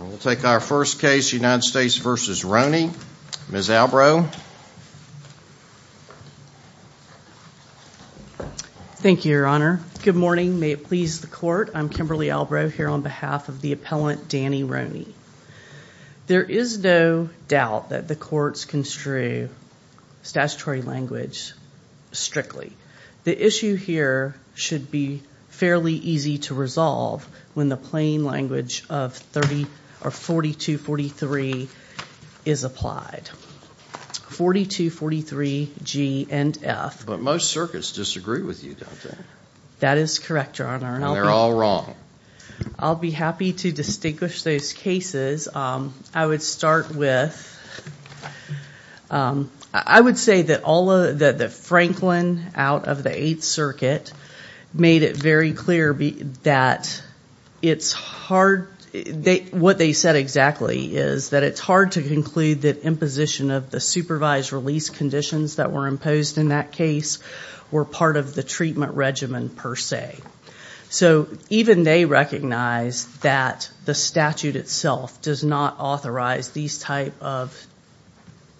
We'll take our first case, United States v. Roney. Ms. Albrow. Thank you, your honor. Good morning, may it please the court. I'm Kimberly Albrow here on behalf of the appellant Danny Roney. There is no doubt that the courts construe statutory language strictly. The issue here should be fairly easy to resolve when the plain language of 4243 is applied. 4243 G and F. But most circuits disagree with you, don't they? That is correct, your honor. And they're all wrong. I'll be happy to distinguish those cases. I would start with, I would say that Franklin out of the 8th circuit made it very clear that it's hard, what they said exactly is that it's hard to conclude that imposition of the supervised release conditions that were imposed in that case were part of the treatment regimen per se. So even they recognize that the statute itself does not authorize these type of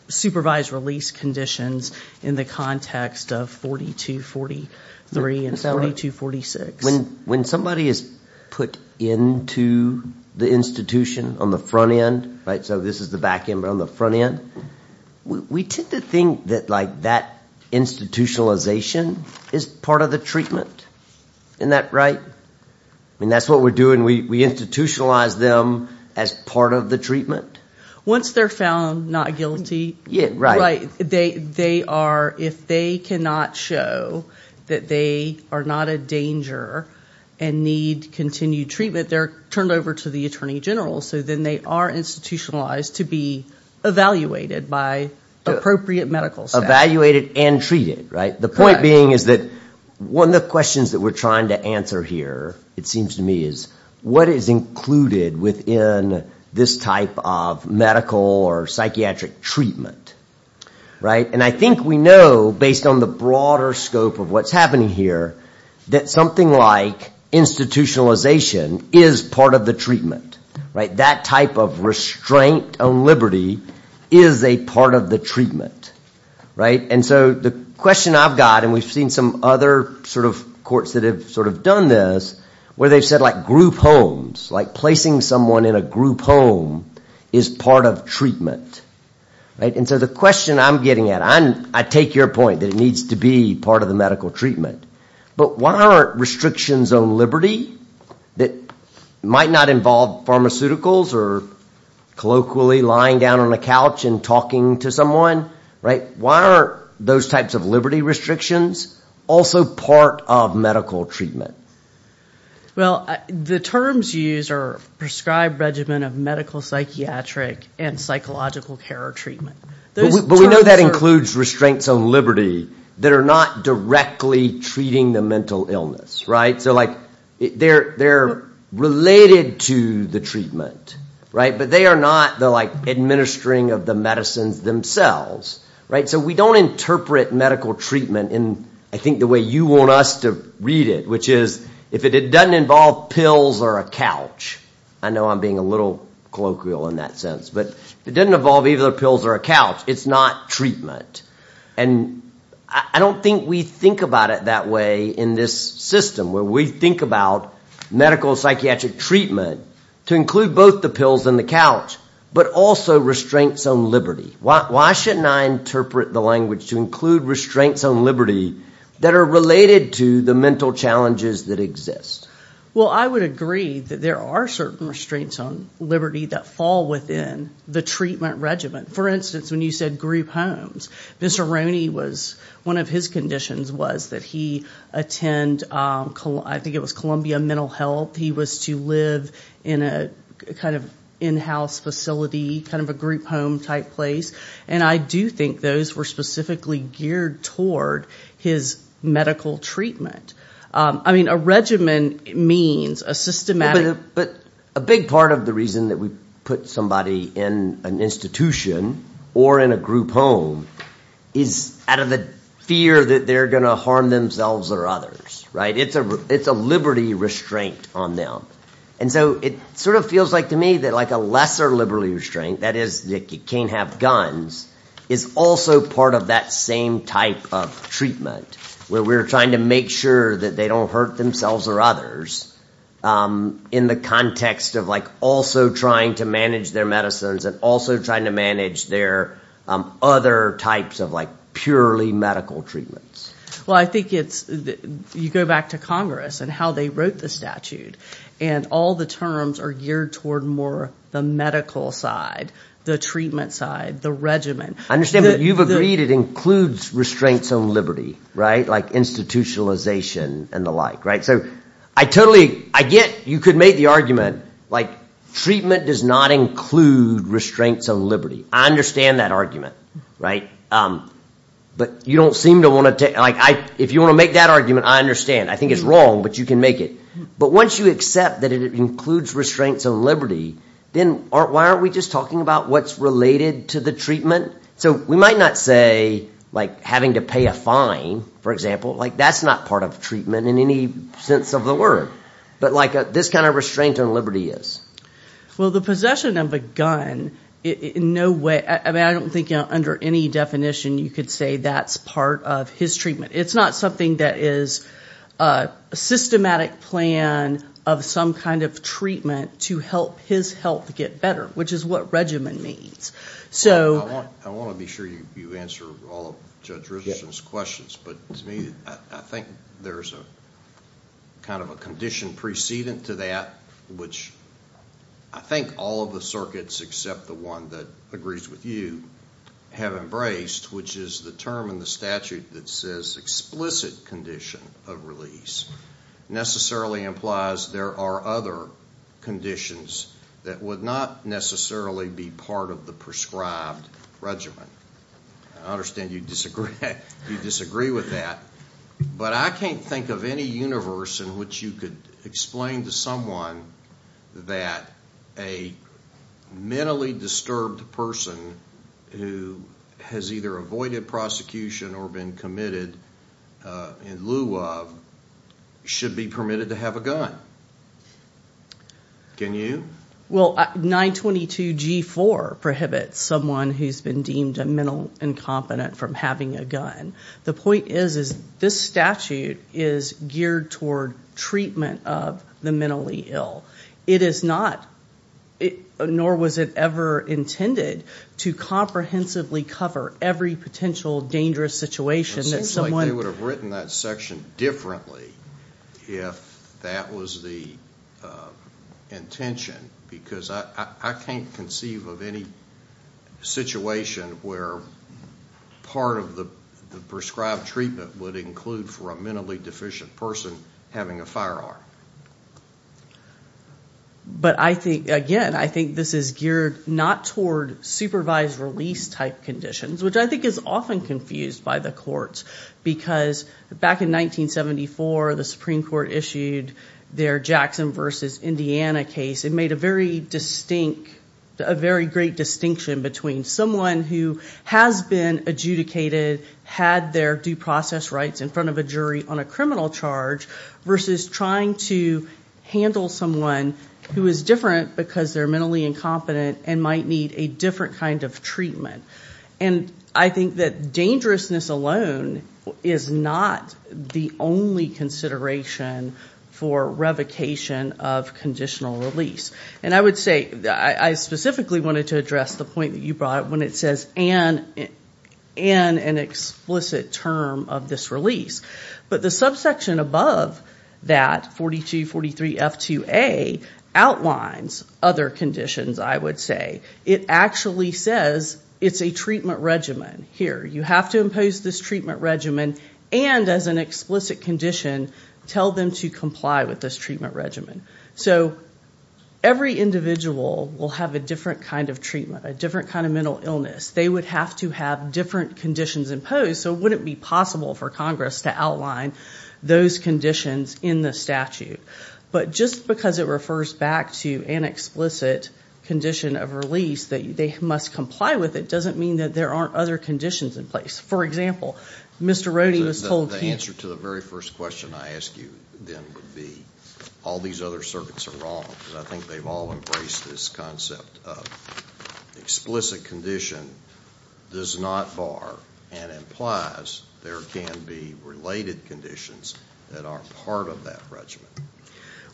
supervised release conditions in the context of 4243 and 4246. When somebody is put into the institution on the front end, right, so this is the back end, but on the front end, we tend to think that like that institutionalization is part of the treatment. Isn't that right? I mean, that's what we're doing. We institutionalize them as part of the treatment. Once they're found not guilty, they are, if they cannot show that they are not a danger and need continued treatment, they're turned over to the attorney general, so then they are institutionalized to be evaluated by appropriate medical staff. Evaluated and treated, right? The point being is that one of the questions that we're trying to answer here, it seems to me, is what is included within this type of medical or psychiatric treatment, right? And I think we know, based on the broader scope of what's happening here, something like institutionalization is part of the treatment, right? That type of restraint on liberty is a part of the treatment, right? And so the question I've got, and we've seen some other sort of courts that have sort of done this, where they've said like group homes, like placing someone in a group home is part of treatment, right? And so the question I'm getting at, I take your point that it needs to be part of the medical treatment, but why aren't restrictions on liberty that might not involve pharmaceuticals or colloquially lying down on a couch and talking to someone, right? Why aren't those types of liberty restrictions also part of medical treatment? Well, the terms used are prescribed regimen of medical psychiatric and psychological care or treatment. But we know that includes restraints on liberty that are not directly treating the mental illness, right? So like they're related to the treatment, right? But they are not the like administering of the medicines themselves, right? So we don't interpret medical treatment in, I think, the way you want us to read it, which is if it doesn't involve pills or a couch, I know I'm being a little colloquial in that sense, but if it doesn't involve either pills or a couch, it's not treatment. And I don't think we think about it that way in this system where we think about medical psychiatric treatment to include both the pills and the couch, but also restraints on liberty. Why shouldn't I interpret the language to include restraints on liberty that are related to the mental challenges that exist? Well, I would agree that there are certain restraints on liberty that fall within the treatment regimen. For instance, when you said group homes, Mr. Roney was, one of his conditions was that he attend, I think it was Columbia Mental Health. He was to live in a kind of in-house facility, kind of a group home type place. And I do think those were specifically geared toward his medical treatment. I mean, a regimen means a systematic... But a big part of the reason that we put somebody in an institution or in a group home is out of the fear that they're going to harm themselves or others, right? It's a liberty restraint on them. And so it sort of feels like to me that like a lesser liberty restraint, that is, you can't have guns, is also part of that same type of treatment, where we're trying to make sure that they don't hurt themselves or others in the context of like also trying to manage their medicines and also trying to manage their other types of like purely medical treatments. Well, I think it's, you go back to Congress and how they wrote the statute, and all the terms are geared toward more the medical side, the treatment side, the regimen. I understand that you've agreed it includes restraints on liberty, right? Like institutionalization and the like, right? So I totally, I get you could make the argument like treatment does not include restraints on liberty. I understand that argument, right? But you don't seem to want to, like I, if you want to make that argument, I understand. I think it's wrong, but you can make it. But once you accept that it includes restraints on liberty, then why aren't we just talking about what's related to the treatment? So we might not say like having to pay a fine, for example, like that's not part of treatment in any sense of the word. But like this kind of restraint on liberty is. Well, the possession of a gun, in no way, I mean, I don't think under any definition, you could say that's part of his treatment. It's not something that is a systematic plan of some kind of treatment to help his health get better, which is what regimen means. I want to be sure you answer all of Judge Richardson's questions, but to me, I think there's a kind of a condition precedent to that, which I think all of the circuits, except the one that agrees with you, have embraced, which is the term in the statute that says explicit condition of release, necessarily implies there are other conditions that would not necessarily be part of the prescribed regimen. I understand you disagree with that, but I can't think of any universe in which you could explain to someone that a mentally disturbed person who has either avoided prosecution or been committed in lieu of, should be permitted to have a gun. Can you? Well, 922 G4 prohibits someone who's been deemed a mental incompetent from having a gun. The point is, is this statute is geared toward treatment of the mentally ill? It is not, nor was it ever intended to comprehensively cover every potential dangerous situation that someone... It seems like they would have written that section differently if that was the intention, because I can't conceive of any situation where part of the prescribed treatment would include for a mentally deficient person having a firearm. But I think, again, I think this is geared not toward supervised release type conditions, which I think is often confused by the courts, because back in 1974, the Supreme Court issued their Jackson versus Indiana case. It made a very distinct, a very great distinction between someone who has been adjudicated, had their due process rights in front of a jury on criminal charge, versus trying to handle someone who is different because they're mentally incompetent and might need a different kind of treatment. And I think that dangerousness alone is not the only consideration for revocation of conditional release. And I would say, I specifically wanted to address the point that you brought up when it says, and an explicit term of this release. But the subsection above that, 4243F2A, outlines other conditions, I would say. It actually says it's a treatment regimen here. You have to impose this treatment regimen, and as an explicit condition, tell them to comply with this treatment regimen. So every individual will have a different kind of treatment, a different kind of mental illness. They would have to have different conditions imposed, so it wouldn't be possible for Congress to outline those conditions in the statute. But just because it refers back to an explicit condition of release, that they must comply with it, doesn't mean that there aren't other conditions in place. For example, Mr. Rohde was told- The answer to the very first question I ask you then would be, all these other circuits are wrong. I think they've all embraced this concept of explicit condition does not bar and implies there can be related conditions that aren't part of that regimen.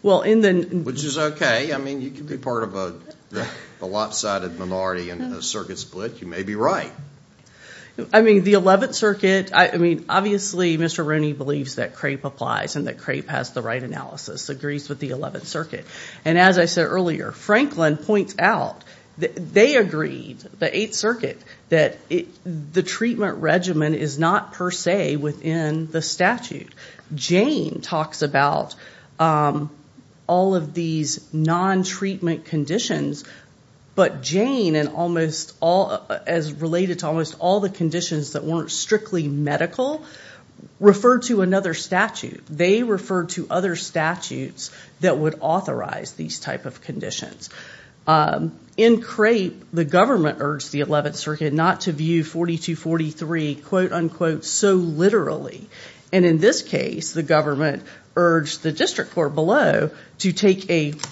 Which is okay. I mean, you can be part of a lopsided minority in a circuit split. You may be right. I mean, the 11th Circuit, I mean, obviously, Mr. Rohde believes that CRAPE applies and that CRAPE has the right analysis, agrees with the 11th Circuit. And as I said earlier, Franklin points out, they agreed, the 8th Circuit, that the treatment regimen is not per se within the statute. Jane talks about all of these non-treatment conditions, but Jane, as related to almost all the conditions that weren't strictly medical, referred to another statute. They referred to other statutes that would authorize these type of conditions. In CRAPE, the government urged the 11th Circuit not to view 4243, quote unquote, so literally. And in this case, the government urged the district court below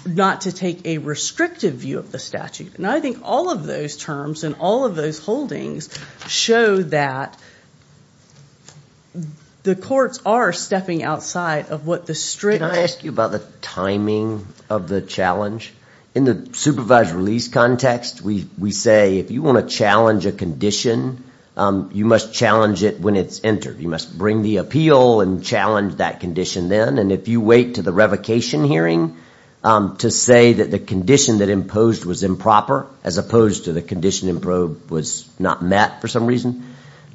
not to take a restrictive view of the statute. And I think all of those terms and all of those holdings show that the courts are stepping outside of what the strict... Can I ask you about the timing of the challenge? In the supervised release context, we say if you want to challenge a condition, you must challenge it when it's entered. You must bring the appeal and challenge that condition then. And if you wait to the revocation hearing to say that the condition that imposed was improper, as opposed to the condition in probe was not met for some reason,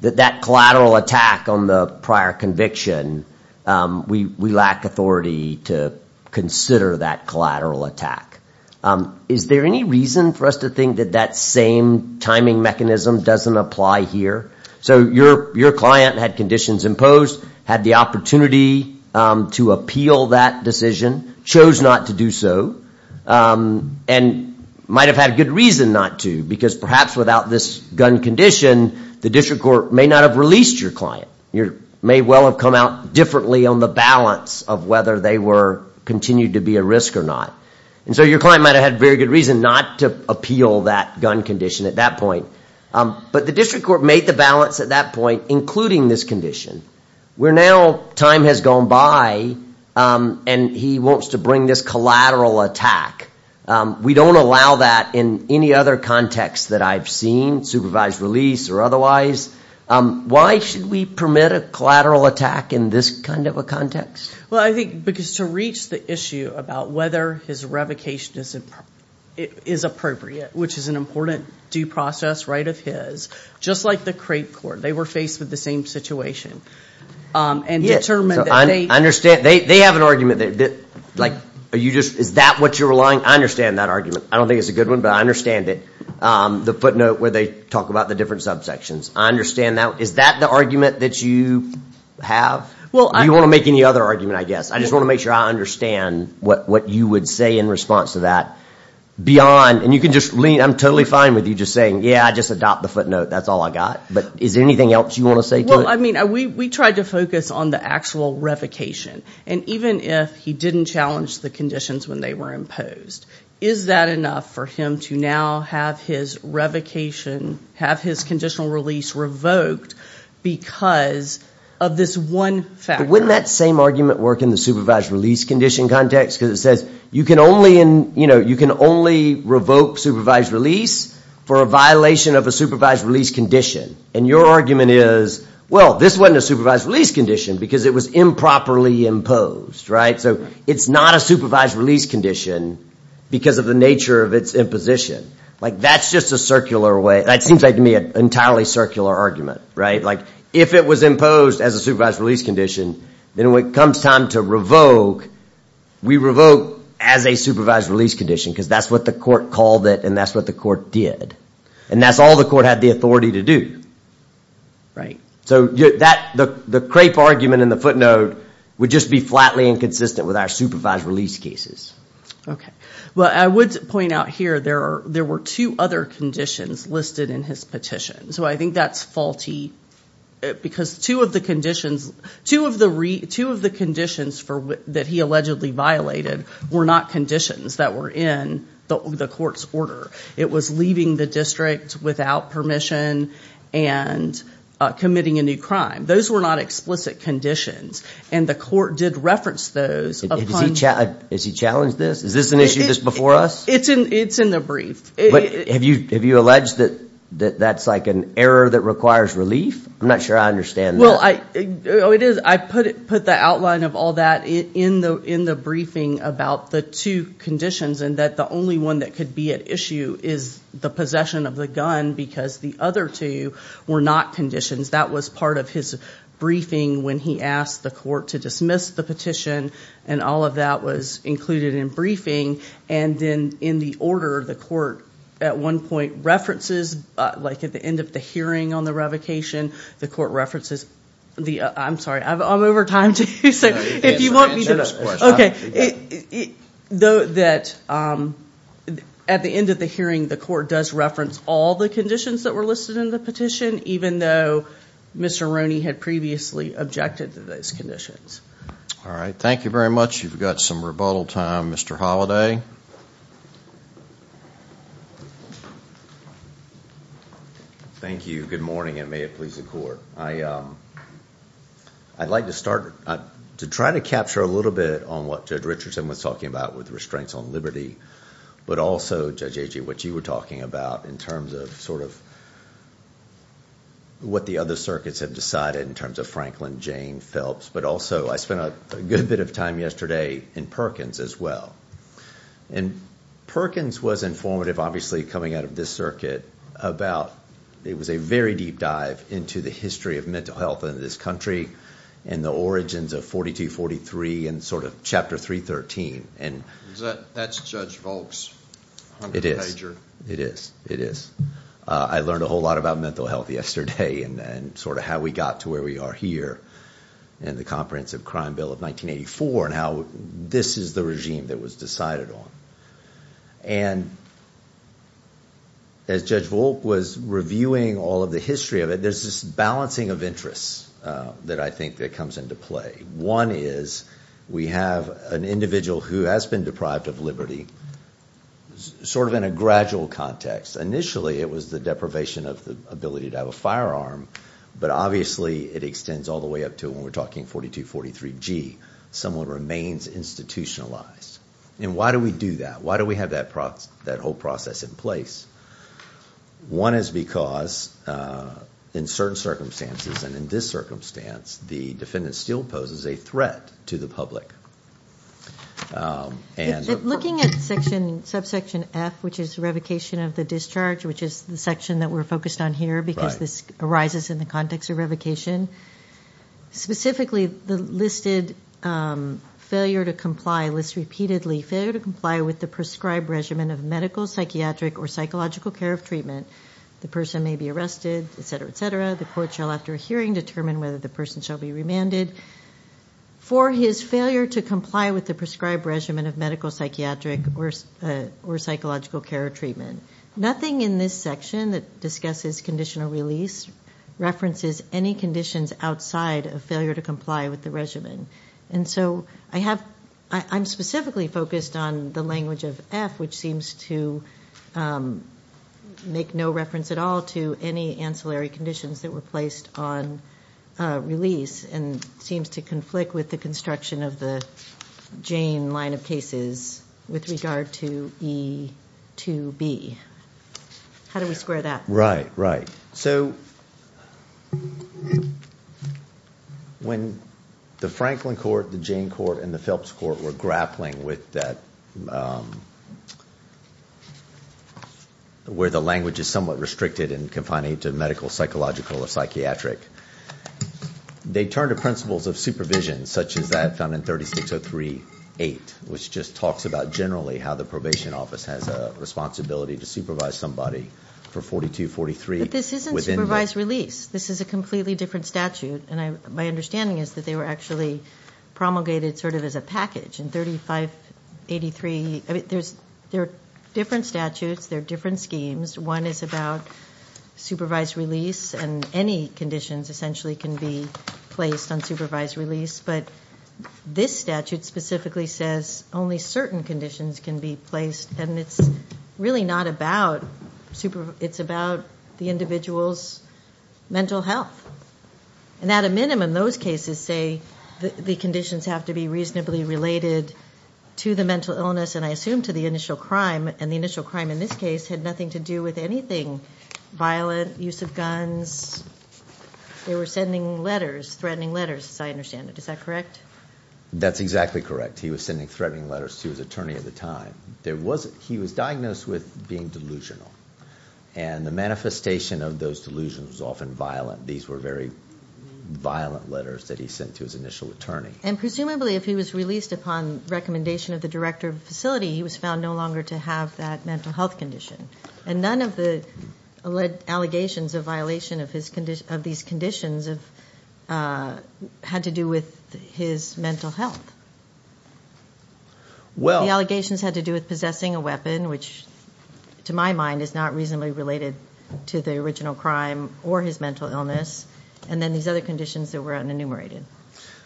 that that collateral attack on the prior conviction, we lack authority to consider that collateral attack. Is there any reason for us to think that that same timing mechanism doesn't apply here? So your client had conditions imposed, had the opportunity to appeal that decision, chose not to do so, and might have had good reason not to, because perhaps without this gun condition, the district court may not have released your client. You may well have come out differently on the balance of whether they were continued to be a risk or not. And so your client might have had very good reason not to appeal that gun condition at that point. But the district court made the balance at that point, including this condition, where now time has gone by and he wants to bring this collateral attack. We don't allow that in any other context that I've seen, supervised release or otherwise. Why should we permit a collateral attack in this kind of a context? Well, I think because to reach the issue about whether his revocation is appropriate, which is an important due process right of his, just like the crate court, they were faced with the same situation and determined that they... I understand. They have an argument. Is that what you're relying? I understand that argument. I don't think it's a good one, but I understand it. The footnote where they talk about the different subsections. I understand that. Is that the argument that you have? Do you want to make any other argument, I guess? I just want to make sure I understand what you would say in response to that. I'm totally fine with you just saying, yeah, I just adopt the footnote. That's all I got. But is there anything else you want to say? Well, I mean, we tried to focus on the actual revocation. And even if he didn't challenge the conditions when they were imposed, is that enough for him to now have his revocation, have his conditional release revoked because of this one factor? Wouldn't that same argument work in the supervised release condition context? Because it says you can only revoke supervised release for a violation of a supervised release condition. And your argument is, well, this wasn't a supervised release condition because it was improperly imposed. So it's not a supervised release condition because of the nature of its imposition. That's just a circular way. That seems like to me an entirely circular argument. If it was imposed as a supervised release condition, then when it comes time to revoke, we revoke as a supervised release condition because that's what the court called it, and that's what the court did. And that's all the court had the authority to do. So the crape argument in the footnote would just be flatly inconsistent with our supervised release cases. Okay. Well, I would point out here there were two other conditions listed in his petition. So I think that's faulty because two of the conditions that he allegedly violated were not conditions that were in the court's order. It was leaving the district without permission and committing a new crime. Those were not explicit conditions, and the court did reference those. Has he challenged this? Is this an issue that's before us? It's in the brief. Have you alleged that that's like an error that requires relief? I'm not sure I understand that. Well, I put the outline of all that in the briefing about the two conditions and that the only one that could be at issue is the possession of the gun because the other two were not conditions. That was part of his briefing when he asked the court to dismiss the petition, and all of that was included in briefing. And then in the order, the court at one point references, like at the end of the hearing on the revocation, the court references the, I'm sorry, I'm over time too. So if you want me to, okay. Though that at the end of the hearing, the court does reference all the conditions that were listed in the petition, even though Mr. Roney had previously objected to those conditions. All right. Thank you very much. You've got some rebuttal time. Mr. Holliday. Thank you. Good morning, and may it please the court. I'd like to start to try to capture a little bit on what Judge Richardson was talking about with restraints on liberty, but also, Judge Agee, what you were talking about in terms of sort of what the other circuits have decided in terms of Franklin, Jane, Phelps, but also I spent a good bit of time yesterday in Perkins as well. And Perkins was informative obviously coming out of this circuit about, it was a very deep dive into the history of mental health in this country and the origins of 4243 and sort of chapter 313. And that's Judge Volk's. It is. It is. It is. I learned a whole lot about mental health yesterday and sort of how we got to where we are here in the Comprehensive Crime Bill of 1984 and how this is the regime that was decided on. And as Judge Volk was reviewing all of the history of it, there's this balancing of interests that I think that comes into play. One is we have an individual who has been deprived of liberty sort of in a gradual context. Initially, it was the deprivation of the ability to have a firearm, but obviously it extends all the way up to when we're talking 4243G, someone remains institutionalized. And why do we do that? Why do we have that whole process in place? One is because in certain circumstances and in this circumstance, the defendant still poses a threat to the public. Looking at subsection F, which is revocation of the discharge, which is the section that we're focused on here because this arises in the context of revocation, specifically the listed failure to comply lists repeatedly failure to comply with the prescribed regimen of medical, psychiatric, or psychological care of treatment. The person may be arrested, et cetera, et cetera. The court shall, after a hearing, determine whether the person shall be remanded for his failure to comply with the prescribed regimen of medical, psychiatric, or psychological care of treatment. Nothing in this section that discusses conditional release references any conditions outside of failure to comply with the regimen. And so I'm specifically focused on the language of F, which seems to make no reference at all to any ancillary conditions that were placed on release and seems to conflict with the construction of the Jane line of cases with regard to E2B. How do we square that? Right, right. So when the Franklin Court, the Jane Court, and the Phelps Court were grappling with that, where the language is somewhat restricted and confining to medical, psychological, or psychiatric, they turned to principles of supervision, such as that found in 36038, which just talks about generally how the probation office has a responsibility to supervise somebody for 4243. But this isn't supervised release. This is a completely different statute, and my understanding is that they were actually promulgated sort of as a package in 3583. I mean, there are different statutes, there are different schemes. One is about supervised release, and any conditions essentially can be placed on supervised release. But this statute specifically says only certain conditions can be placed, and it's really not about super, it's about the individual's mental health. And at a minimum, those cases say the conditions have to be reasonably related to the mental illness, and I assume to the initial crime, and the initial crime in this case had nothing to do with anything violent, use of guns. They were sending letters, threatening letters, as I understand it. Is that correct? That's exactly correct. He was sending threatening letters to his attorney at the time. He was diagnosed with being delusional, and the manifestation of those delusions was often violent. These were very violent letters that he sent to his initial attorney. And presumably if he was released upon recommendation of the director of the facility, he was found no longer to have that mental health condition. And none of the allegations of violation of these conditions had to do with his mental health. The allegations had to do with possessing a weapon, which to my mind is not reasonably related to the original crime or his mental illness, and then these other conditions that were unenumerated.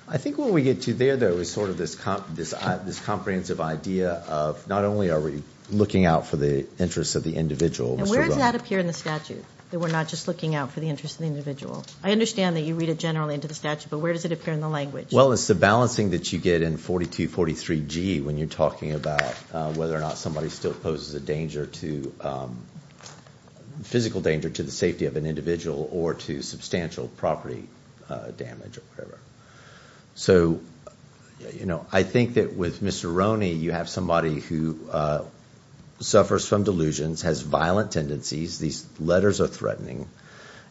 I think what we get to there, though, is sort of this comprehensive idea of not only are we looking out for the interests of the individual. And where does that appear in the statute, that we're not just looking out for the interests of the individual? I understand that you read it generally into the statute, but where does it appear in the language? Well, it's the balancing that you get in 4243G when you're talking about whether or not somebody still poses a physical danger to the safety of an individual or to substantial property damage or whatever. So I think that with Mr. Roney, you have somebody who suffers from delusions, has violent tendencies. These letters are threatening.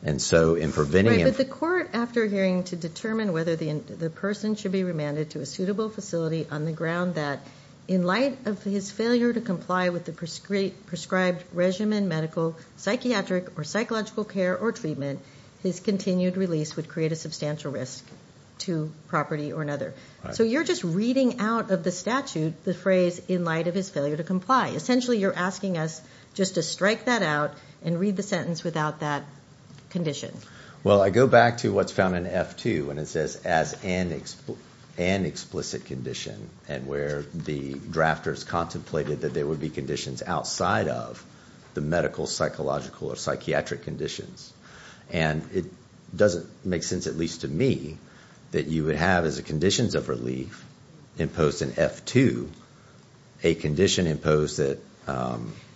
But the court, after hearing to determine whether the person should be remanded to a facility on the ground that in light of his failure to comply with the prescribed regimen, medical, psychiatric, or psychological care or treatment, his continued release would create a substantial risk to property or another. So you're just reading out of the statute the phrase in light of his failure to comply. Essentially, you're asking us just to strike that out and read the sentence without that condition. Well, I go back to what's found in F2 when it as an explicit condition and where the drafters contemplated that there would be conditions outside of the medical, psychological, or psychiatric conditions. And it doesn't make sense, at least to me, that you would have as conditions of relief imposed in F2 a condition imposed that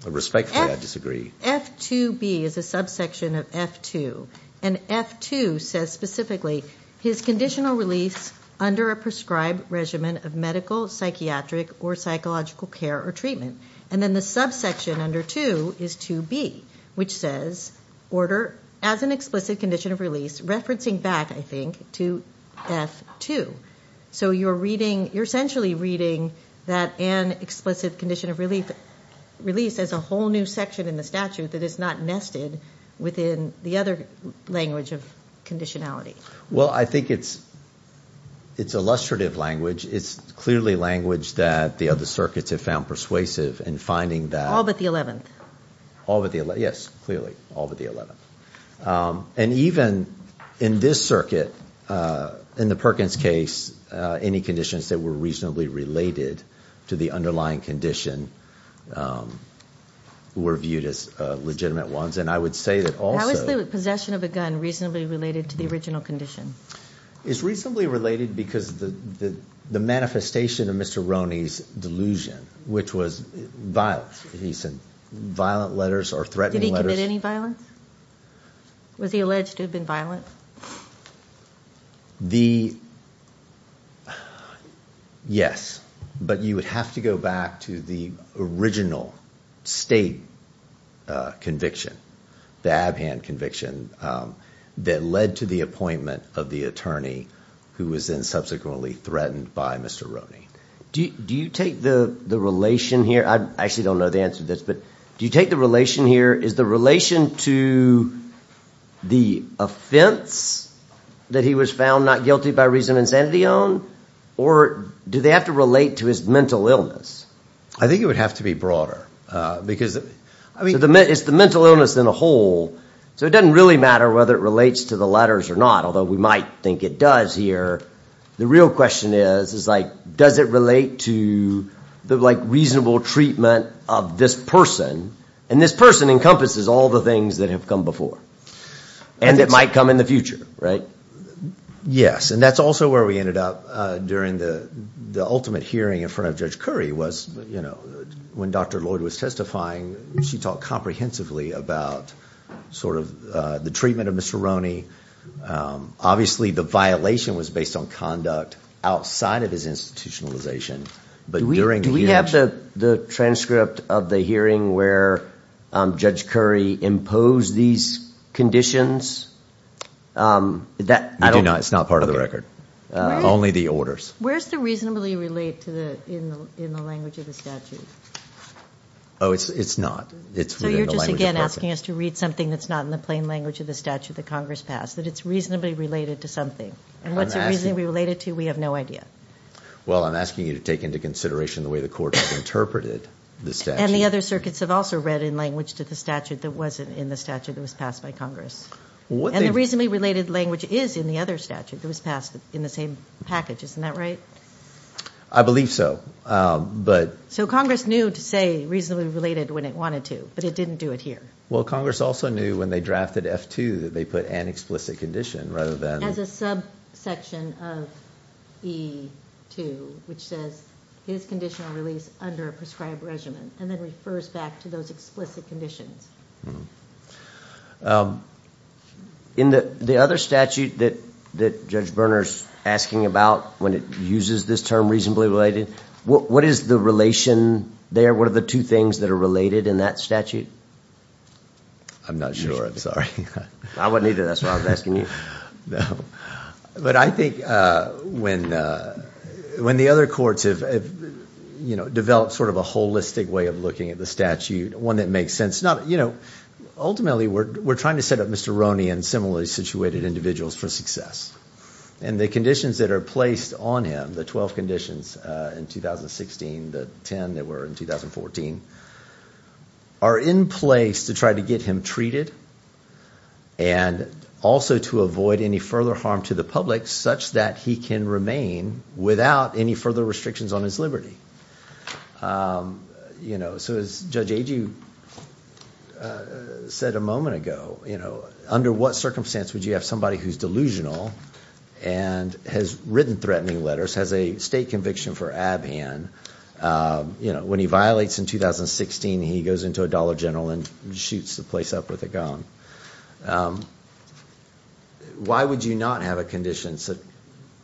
respectfully I disagree. F2B is a subsection of F2. And F2 says specifically his conditional release under a prescribed regimen of medical, psychiatric, or psychological care or treatment. And then the subsection under 2 is 2B, which says order as an explicit condition of release, referencing back, I think, to F2. So you're reading, you're essentially reading that an explicit condition of release as a whole new section in the statute that is not nested within the other language of conditionality. Well, I think it's illustrative language. It's clearly language that the other circuits have found persuasive in finding that... All but the 11th. All but the 11th. Yes, clearly, all but the 11th. And even in this circuit, in the Perkins case, any conditions that were reasonably related to the underlying condition were viewed as legitimate ones. And I would say that also... How is the possession of a gun reasonably related to the original condition? It's reasonably related because of the manifestation of Mr. Roney's delusion, which was violence. He sent violent letters or threatening letters. Did he commit any violence? Was he alleged to have been violent? The... Yes, but you would have to go back to the original state conviction, the Abhand conviction, that led to the appointment of the attorney who was then subsequently threatened by Mr. Roney. Do you take the relation here... I actually don't know the answer to this, but do you take the relation here... Is the relation to the offense that he was found not guilty by reason of insanity on, or do they have to relate to his mental illness? I think it would have to be broader because... It's the mental illness in the whole, so it doesn't really matter whether it relates to the letters or not, although we might think it does here. The real question is, is like, does it relate to the reasonable treatment of this person? And this person encompasses all the things that have come before, and that might come in the future, right? Yes, and that's also where we ended up during the ultimate hearing in front of Judge Curry was when Dr. Lloyd was testifying, she talked comprehensively about sort of the treatment of Mr. Roney. Obviously, the violation was based on conduct outside of his institutionalization, but during the hearing... Do we have the transcript of the hearing where Judge Curry imposed these conditions? It's not part of the record, only the orders. Where's the reasonably relate to the in the language of the statute? Oh, it's not. So you're just again asking us to read something that's not in the plain language of the statute that Congress passed, that it's reasonably related to something, and what's the reason we relate it to? We have no idea. Well, I'm asking you to take into consideration the way the court has interpreted the statute. And the other circuits have also read in language to the statute that wasn't in the statute that was passed by Congress. And the reasonably related language is in the other statute that was passed in the same package, isn't that right? I believe so, but... So Congress knew to say reasonably related when it wanted to, but it didn't do it here. Well, Congress also knew when they drafted F-2 that they put an explicit condition rather than... As a subsection of E-2, which says his conditional release under a conditions. In the other statute that Judge Berner's asking about when it uses this term reasonably related, what is the relation there? What are the two things that are related in that statute? I'm not sure, I'm sorry. I wouldn't either, that's why I was asking you. But I think when the other courts have developed sort of a holistic way of looking at the statute, one that makes sense. Ultimately, we're trying to set up Mr. Roney and similarly situated individuals for success. And the conditions that are placed on him, the 12 conditions in 2016, the 10 that were in 2014, are in place to try to get him treated and also to avoid any further harm to the public such that he can remain without any further restrictions on his liberty. So as Judge Agee said a moment ago, under what circumstance would you have somebody who's delusional and has written threatening letters, has a state conviction for ab-hand. When he violates in 2016, he goes into a Dollar General and shoots the place up with a gun. Why would you not have a condition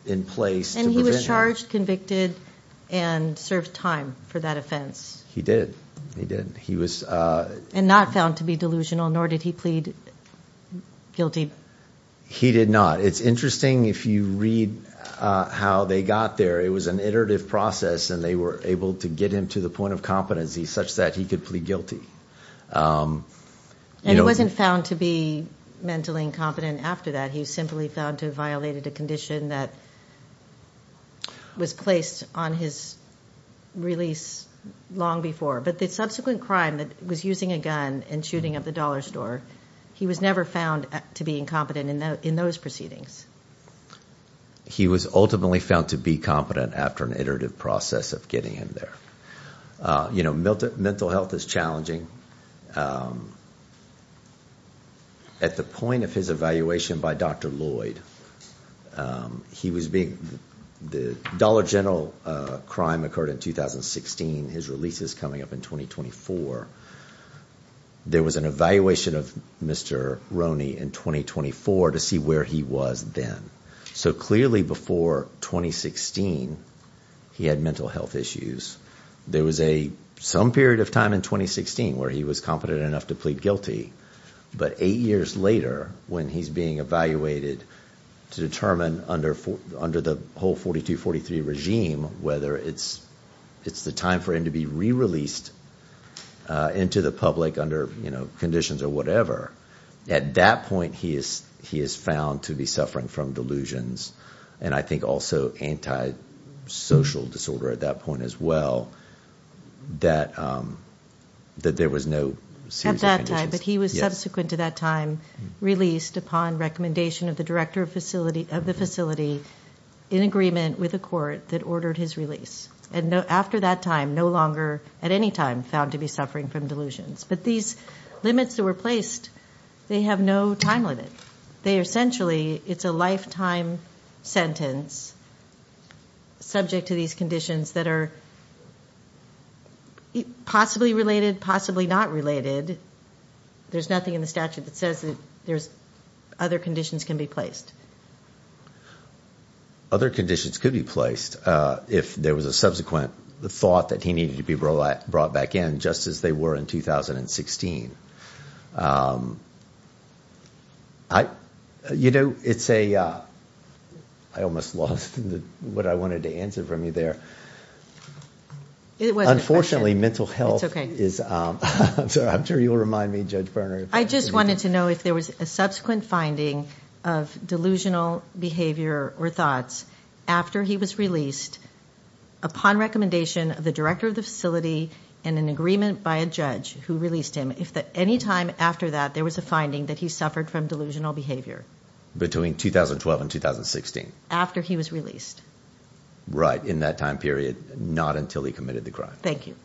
in place to prevent him? And he was charged, convicted, and served time for that offense. He did, he did. And not found to be delusional, nor did he plead guilty. He did not. It's interesting if you read how they got there. It was an iterative process and they were able to get him to the point of competency such that he could plead guilty. And he wasn't found to be mentally incompetent after that. He was simply found to have violated a condition that was placed on his release long before. But the subsequent crime that was using a gun and shooting up the dollar store, he was never found to be incompetent in those proceedings. He was ultimately found to be competent after an iterative process of getting him there. You know, mental health is challenging. At the point of his evaluation by Dr. Lloyd, the Dollar General crime occurred in 2016, his release is coming up in 2024. There was an evaluation of Mr. Roney in 2024 to see where he was then. So clearly before 2016, he had mental health issues. There was some period of time in 2016 where he was competent enough to plead guilty. But eight years later, when he's being evaluated to determine under the whole 4243 regime whether it's the time for him to be re-released into the public under conditions or whatever, at that point he is found to be suffering from delusions, and I think also antisocial disorder at that point as well, that there was no series of conditions. At that time, but he was subsequent to that time, released upon recommendation of the director of the facility in agreement with the court that and after that time, no longer at any time found to be suffering from delusions. But these limits that were placed, they have no time limit. They essentially, it's a lifetime sentence subject to these conditions that are possibly related, possibly not related. There's nothing in the statute that says that other conditions can be placed. Other conditions could be placed if there was a subsequent thought that he needed to be brought back in, just as they were in 2016. You know, it's a, I almost lost what I wanted to answer from you there. Unfortunately, mental health is, I'm sure you'll remind me, Judge Berner. I just wanted to know if there was a subsequent finding of delusional behavior or thoughts after he was released upon recommendation of the director of the facility and an agreement by a judge who released him, if at any time after that, there was a finding that he suffered from delusional behavior. Between 2012 and 2016. After he was released. Right, in that time period, not until he committed the crime. Thank you.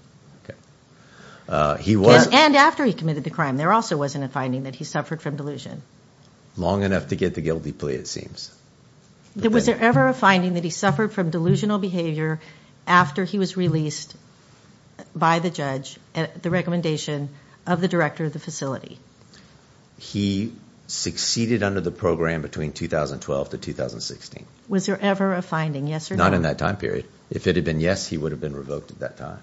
And after he committed the crime, there also wasn't a finding that he suffered from delusion. Long enough to get the guilty plea, it seems. Was there ever a finding that he suffered from delusional behavior after he was released by the judge at the recommendation of the director of the facility? He succeeded under the program between 2012 to 2016. Was there ever a finding, yes or no? Not in that time period. If it had been yes, he would have been revoked at that time.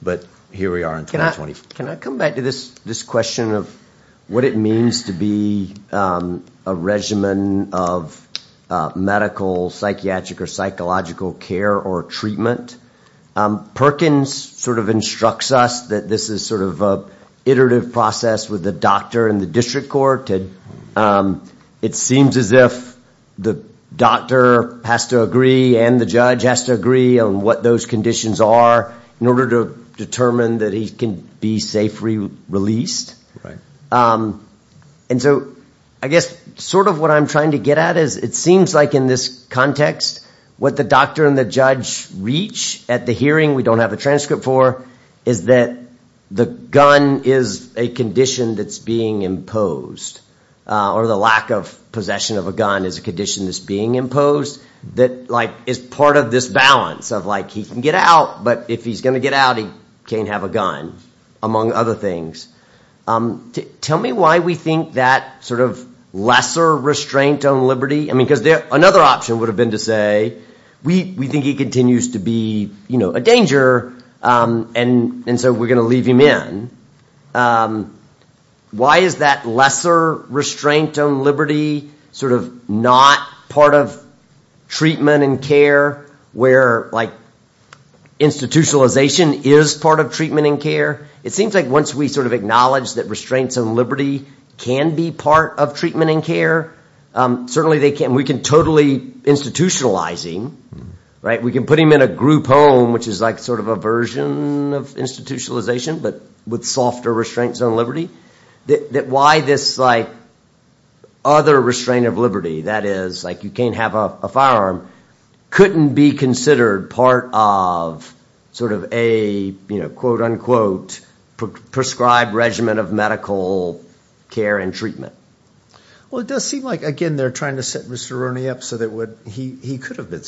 But here we are in 2024. Can I come back to this question of what it means to be a regimen of medical psychiatric or psychological care or treatment? Perkins sort of instructs us that this is sort of an iterative process with the doctor and the district court. It seems as if the doctor has to agree and the judge has to agree on what those conditions are in order to determine that he can be safely released. And so I guess sort of what I'm trying to get at is it seems like in this context, what the doctor and the judge reach at the hearing, we don't have a transcript for, is that the gun is a condition that's being imposed or the lack of possession of a gun is a condition that's being imposed that is part of this balance of he can get out, but if he's going to get out, he can't have a gun, among other things. Tell me why we think that sort of lesser restraint on liberty, because another option would have been to say, we think he continues to be a danger, and so we're going to leave him in. Why is that lesser restraint on liberty sort of not part of treatment and care, where like institutionalization is part of treatment and care? It seems like once we sort of acknowledge that restraints on liberty can be part of treatment and care, certainly they can. We can totally institutionalize him, right? We can put him in a group home, which is like sort of a version of institutionalization, but with softer restraints on liberty, that why this like other restraint of liberty, that is, like you can't have a firearm, couldn't be considered part of sort of a, you know, quote, unquote, prescribed regimen of medical care and treatment. Well, it does seem like, again, they're trying to set Mr. Rooney up so that he could have been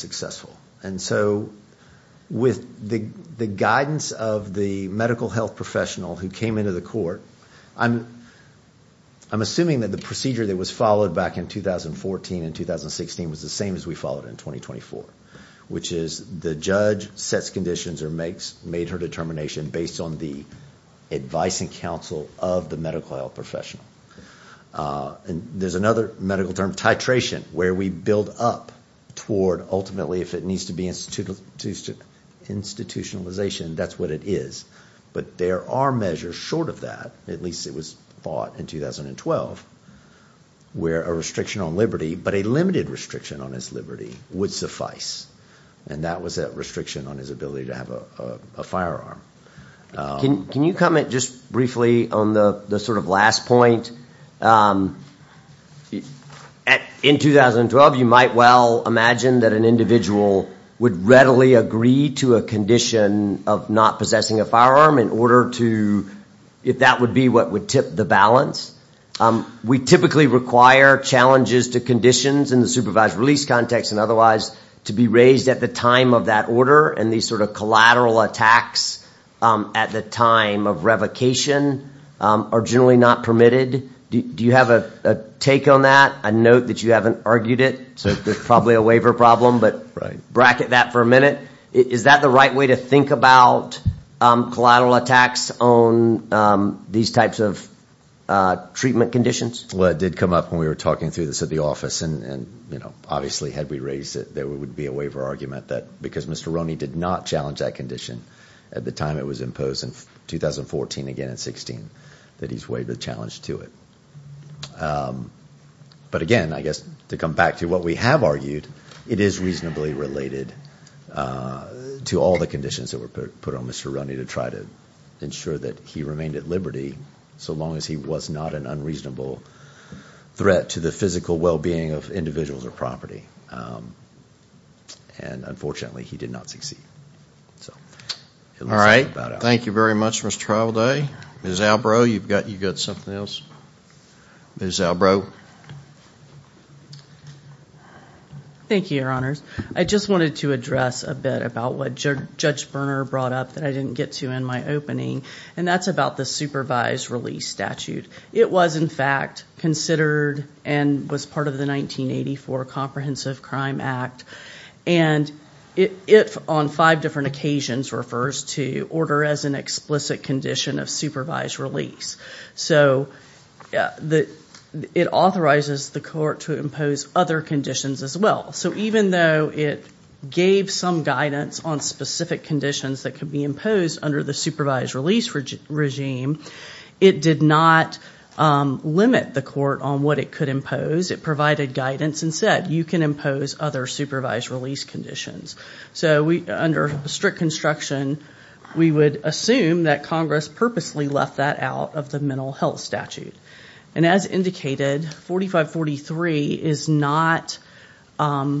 And so with the guidance of the medical health professional who came into the court, I'm assuming that the procedure that was followed back in 2014 and 2016 was the same as we followed in 2024, which is the judge sets conditions or makes, made her determination based on the advice and counsel of the medical health professional. And there's another medical term, titration, where we build up toward ultimately if it needs to be institutionalization, that's what it is. But there are measures short of that, at least it was thought in 2012, where a restriction on liberty, but a limited restriction on his liberty, would suffice. And that was that restriction on his ability to have a firearm. Can you comment just briefly on the sort of last point? In 2012, you might well imagine that an individual would readily agree to a condition of not possessing a firearm in order to, if that would be what would tip the balance. We typically require challenges to conditions in the supervised release context and otherwise to be raised at the time of that order. And these sort of collateral attacks at the time of revocation are generally not permitted. Do you have a take on that? I note that you haven't argued it. So there's probably a waiver problem, but bracket that for a minute. Is that the right way to think about collateral attacks on these types of treatment conditions? Well, it did come up when we were talking through this at the office. And obviously had we raised it, there would be a waiver argument that because Mr. Roney did not challenge that condition at the time it was imposed in 2014, again in 2016, that he's waived the challenge to it. But again, I guess to come back to what we have argued, it is reasonably related to all the conditions that were put on Mr. Roney to try to ensure that he remained at liberty so long as he was not an unreasonable threat to the physical well-being of individuals or property. And unfortunately, he did not succeed. All right. Thank you very much, Mr. Trialday. Ms. Albrow, you've got something else? Ms. Albrow. Thank you, Your Honors. I just wanted to address a bit about what Judge Berner brought up that I didn't get to in my opening, and that's about the supervised release statute. It was, in fact, considered and was part of the 1984 Comprehensive Crime Act. And it, on five different occasions, refers to order as an explicit condition of supervised release. So it authorizes the court to impose other conditions as well. So even though it gave some guidance on specific conditions that could be imposed under the supervised release regime, it did not limit the court on what it could impose. It provided guidance and said, you can impose other supervised release conditions. So under strict construction, we would assume that Congress purposely left that out of the mental health statute. And as indicated, 4543 is not, a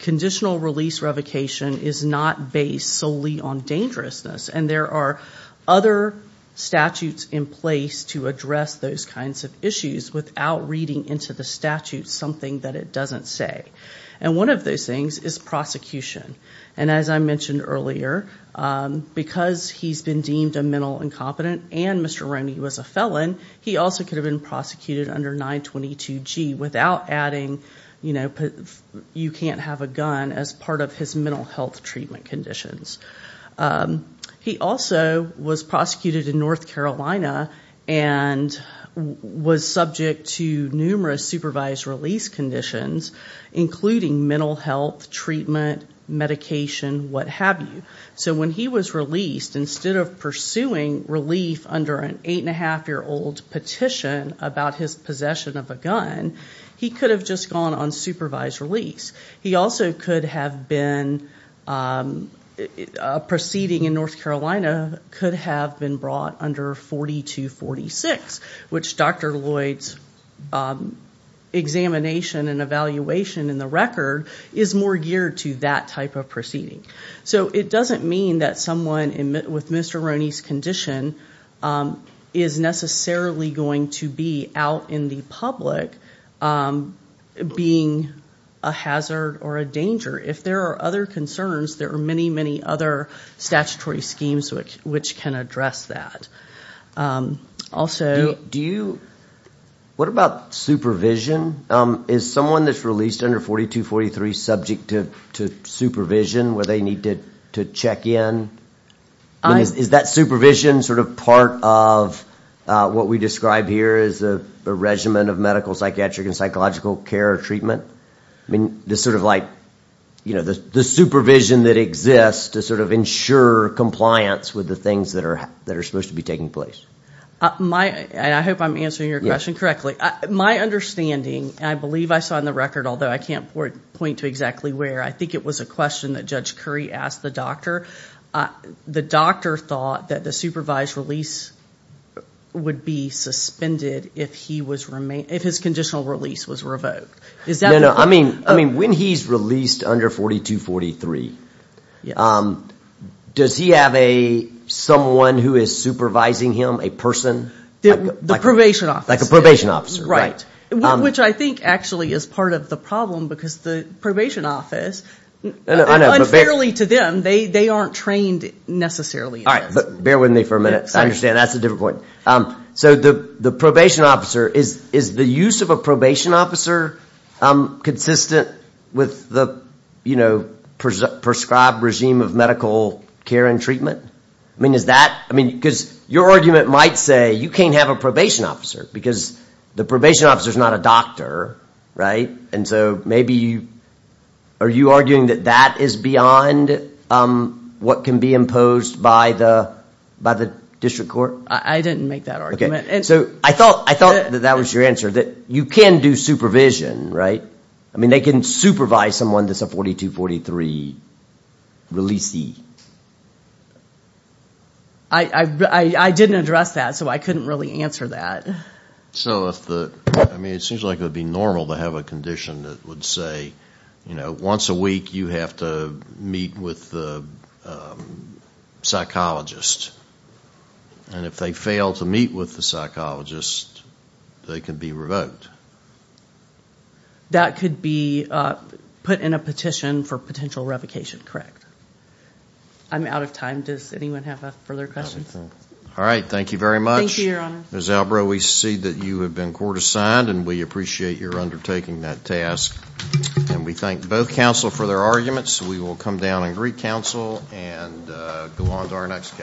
conditional release revocation is not based solely on dangerousness. And there are other statutes in place to address those kinds of issues without reading into the statute something that it doesn't say. And one of those things is prosecution. And as I mentioned earlier, because he's been deemed a mental incompetent and Mr. Roney was a felon, he also could have been prosecuted under 922G without adding, you know, you can't have a gun as part of his mental health treatment conditions. He also was prosecuted in North Carolina and was subject to numerous supervised release conditions, including mental health treatment, medication, what have you. So when he was released, instead of pursuing relief under an eight-and-a-half-year-old petition about his possession of a gun, he could have just gone on supervised release. He also could have been, a proceeding in North Carolina could have been brought under 4246, which Dr. Lloyd's examination and evaluation in the record is more geared to that type of proceeding. So it doesn't mean that someone with Mr. Roney's condition is necessarily going to be out in the public being a hazard or a danger. If there are other concerns, there are many, many other statutory schemes which can address that. Also, do you, what about supervision? Is someone that's released under 4243 subject to supervision where they need to check in? Is that supervision sort of part of what we describe here as a regimen of medical, psychiatric, and psychological care or treatment? I mean, the sort of like, you know, the supervision that exists to sort of ensure compliance with the things that are supposed to be taking place. I hope I'm answering your question correctly. My understanding, I believe I saw in the record, although I can't point to exactly where, I think it was a question that Judge Curry asked the doctor. The doctor thought that the supervised release would be suspended if he was, if his conditional release was revoked. No, no, I mean, when he's released under 4243, does he have someone who is supervising him, a person? The probation officer. Like a probation officer. Right, which I think actually is part of the problem because the probation office, unfairly to them, they aren't trained necessarily. All right, but bear with me for a minute. I understand that's a different point. So the probation officer, is the use of a probation officer consistent with the, you know, prescribed regime of medical care and treatment? I mean, is that, I mean, because your argument might say you can't have a probation officer because the probation officer is not a doctor, right? And so maybe you, are you arguing that that is beyond what can be imposed by the district court? I didn't make that argument. And so I thought that that was your answer, that you can do supervision, right? I mean, they can supervise someone that's a 4243 releasee. I didn't address that, so I couldn't really answer that. So if the, I mean, it seems like it would be normal to have a condition that would say, you know, once a week you have to meet with the psychologist. And if they fail to meet with the psychologist, they could be revoked. That could be put in a petition for potential revocation, correct? I'm out of time. Does anyone have further questions? All right, thank you very much. Thank you, your honor. We see that you have been court assigned and we appreciate your undertaking that task. And we thank both counsel for their arguments. We will come down and greet counsel and go on to our next case.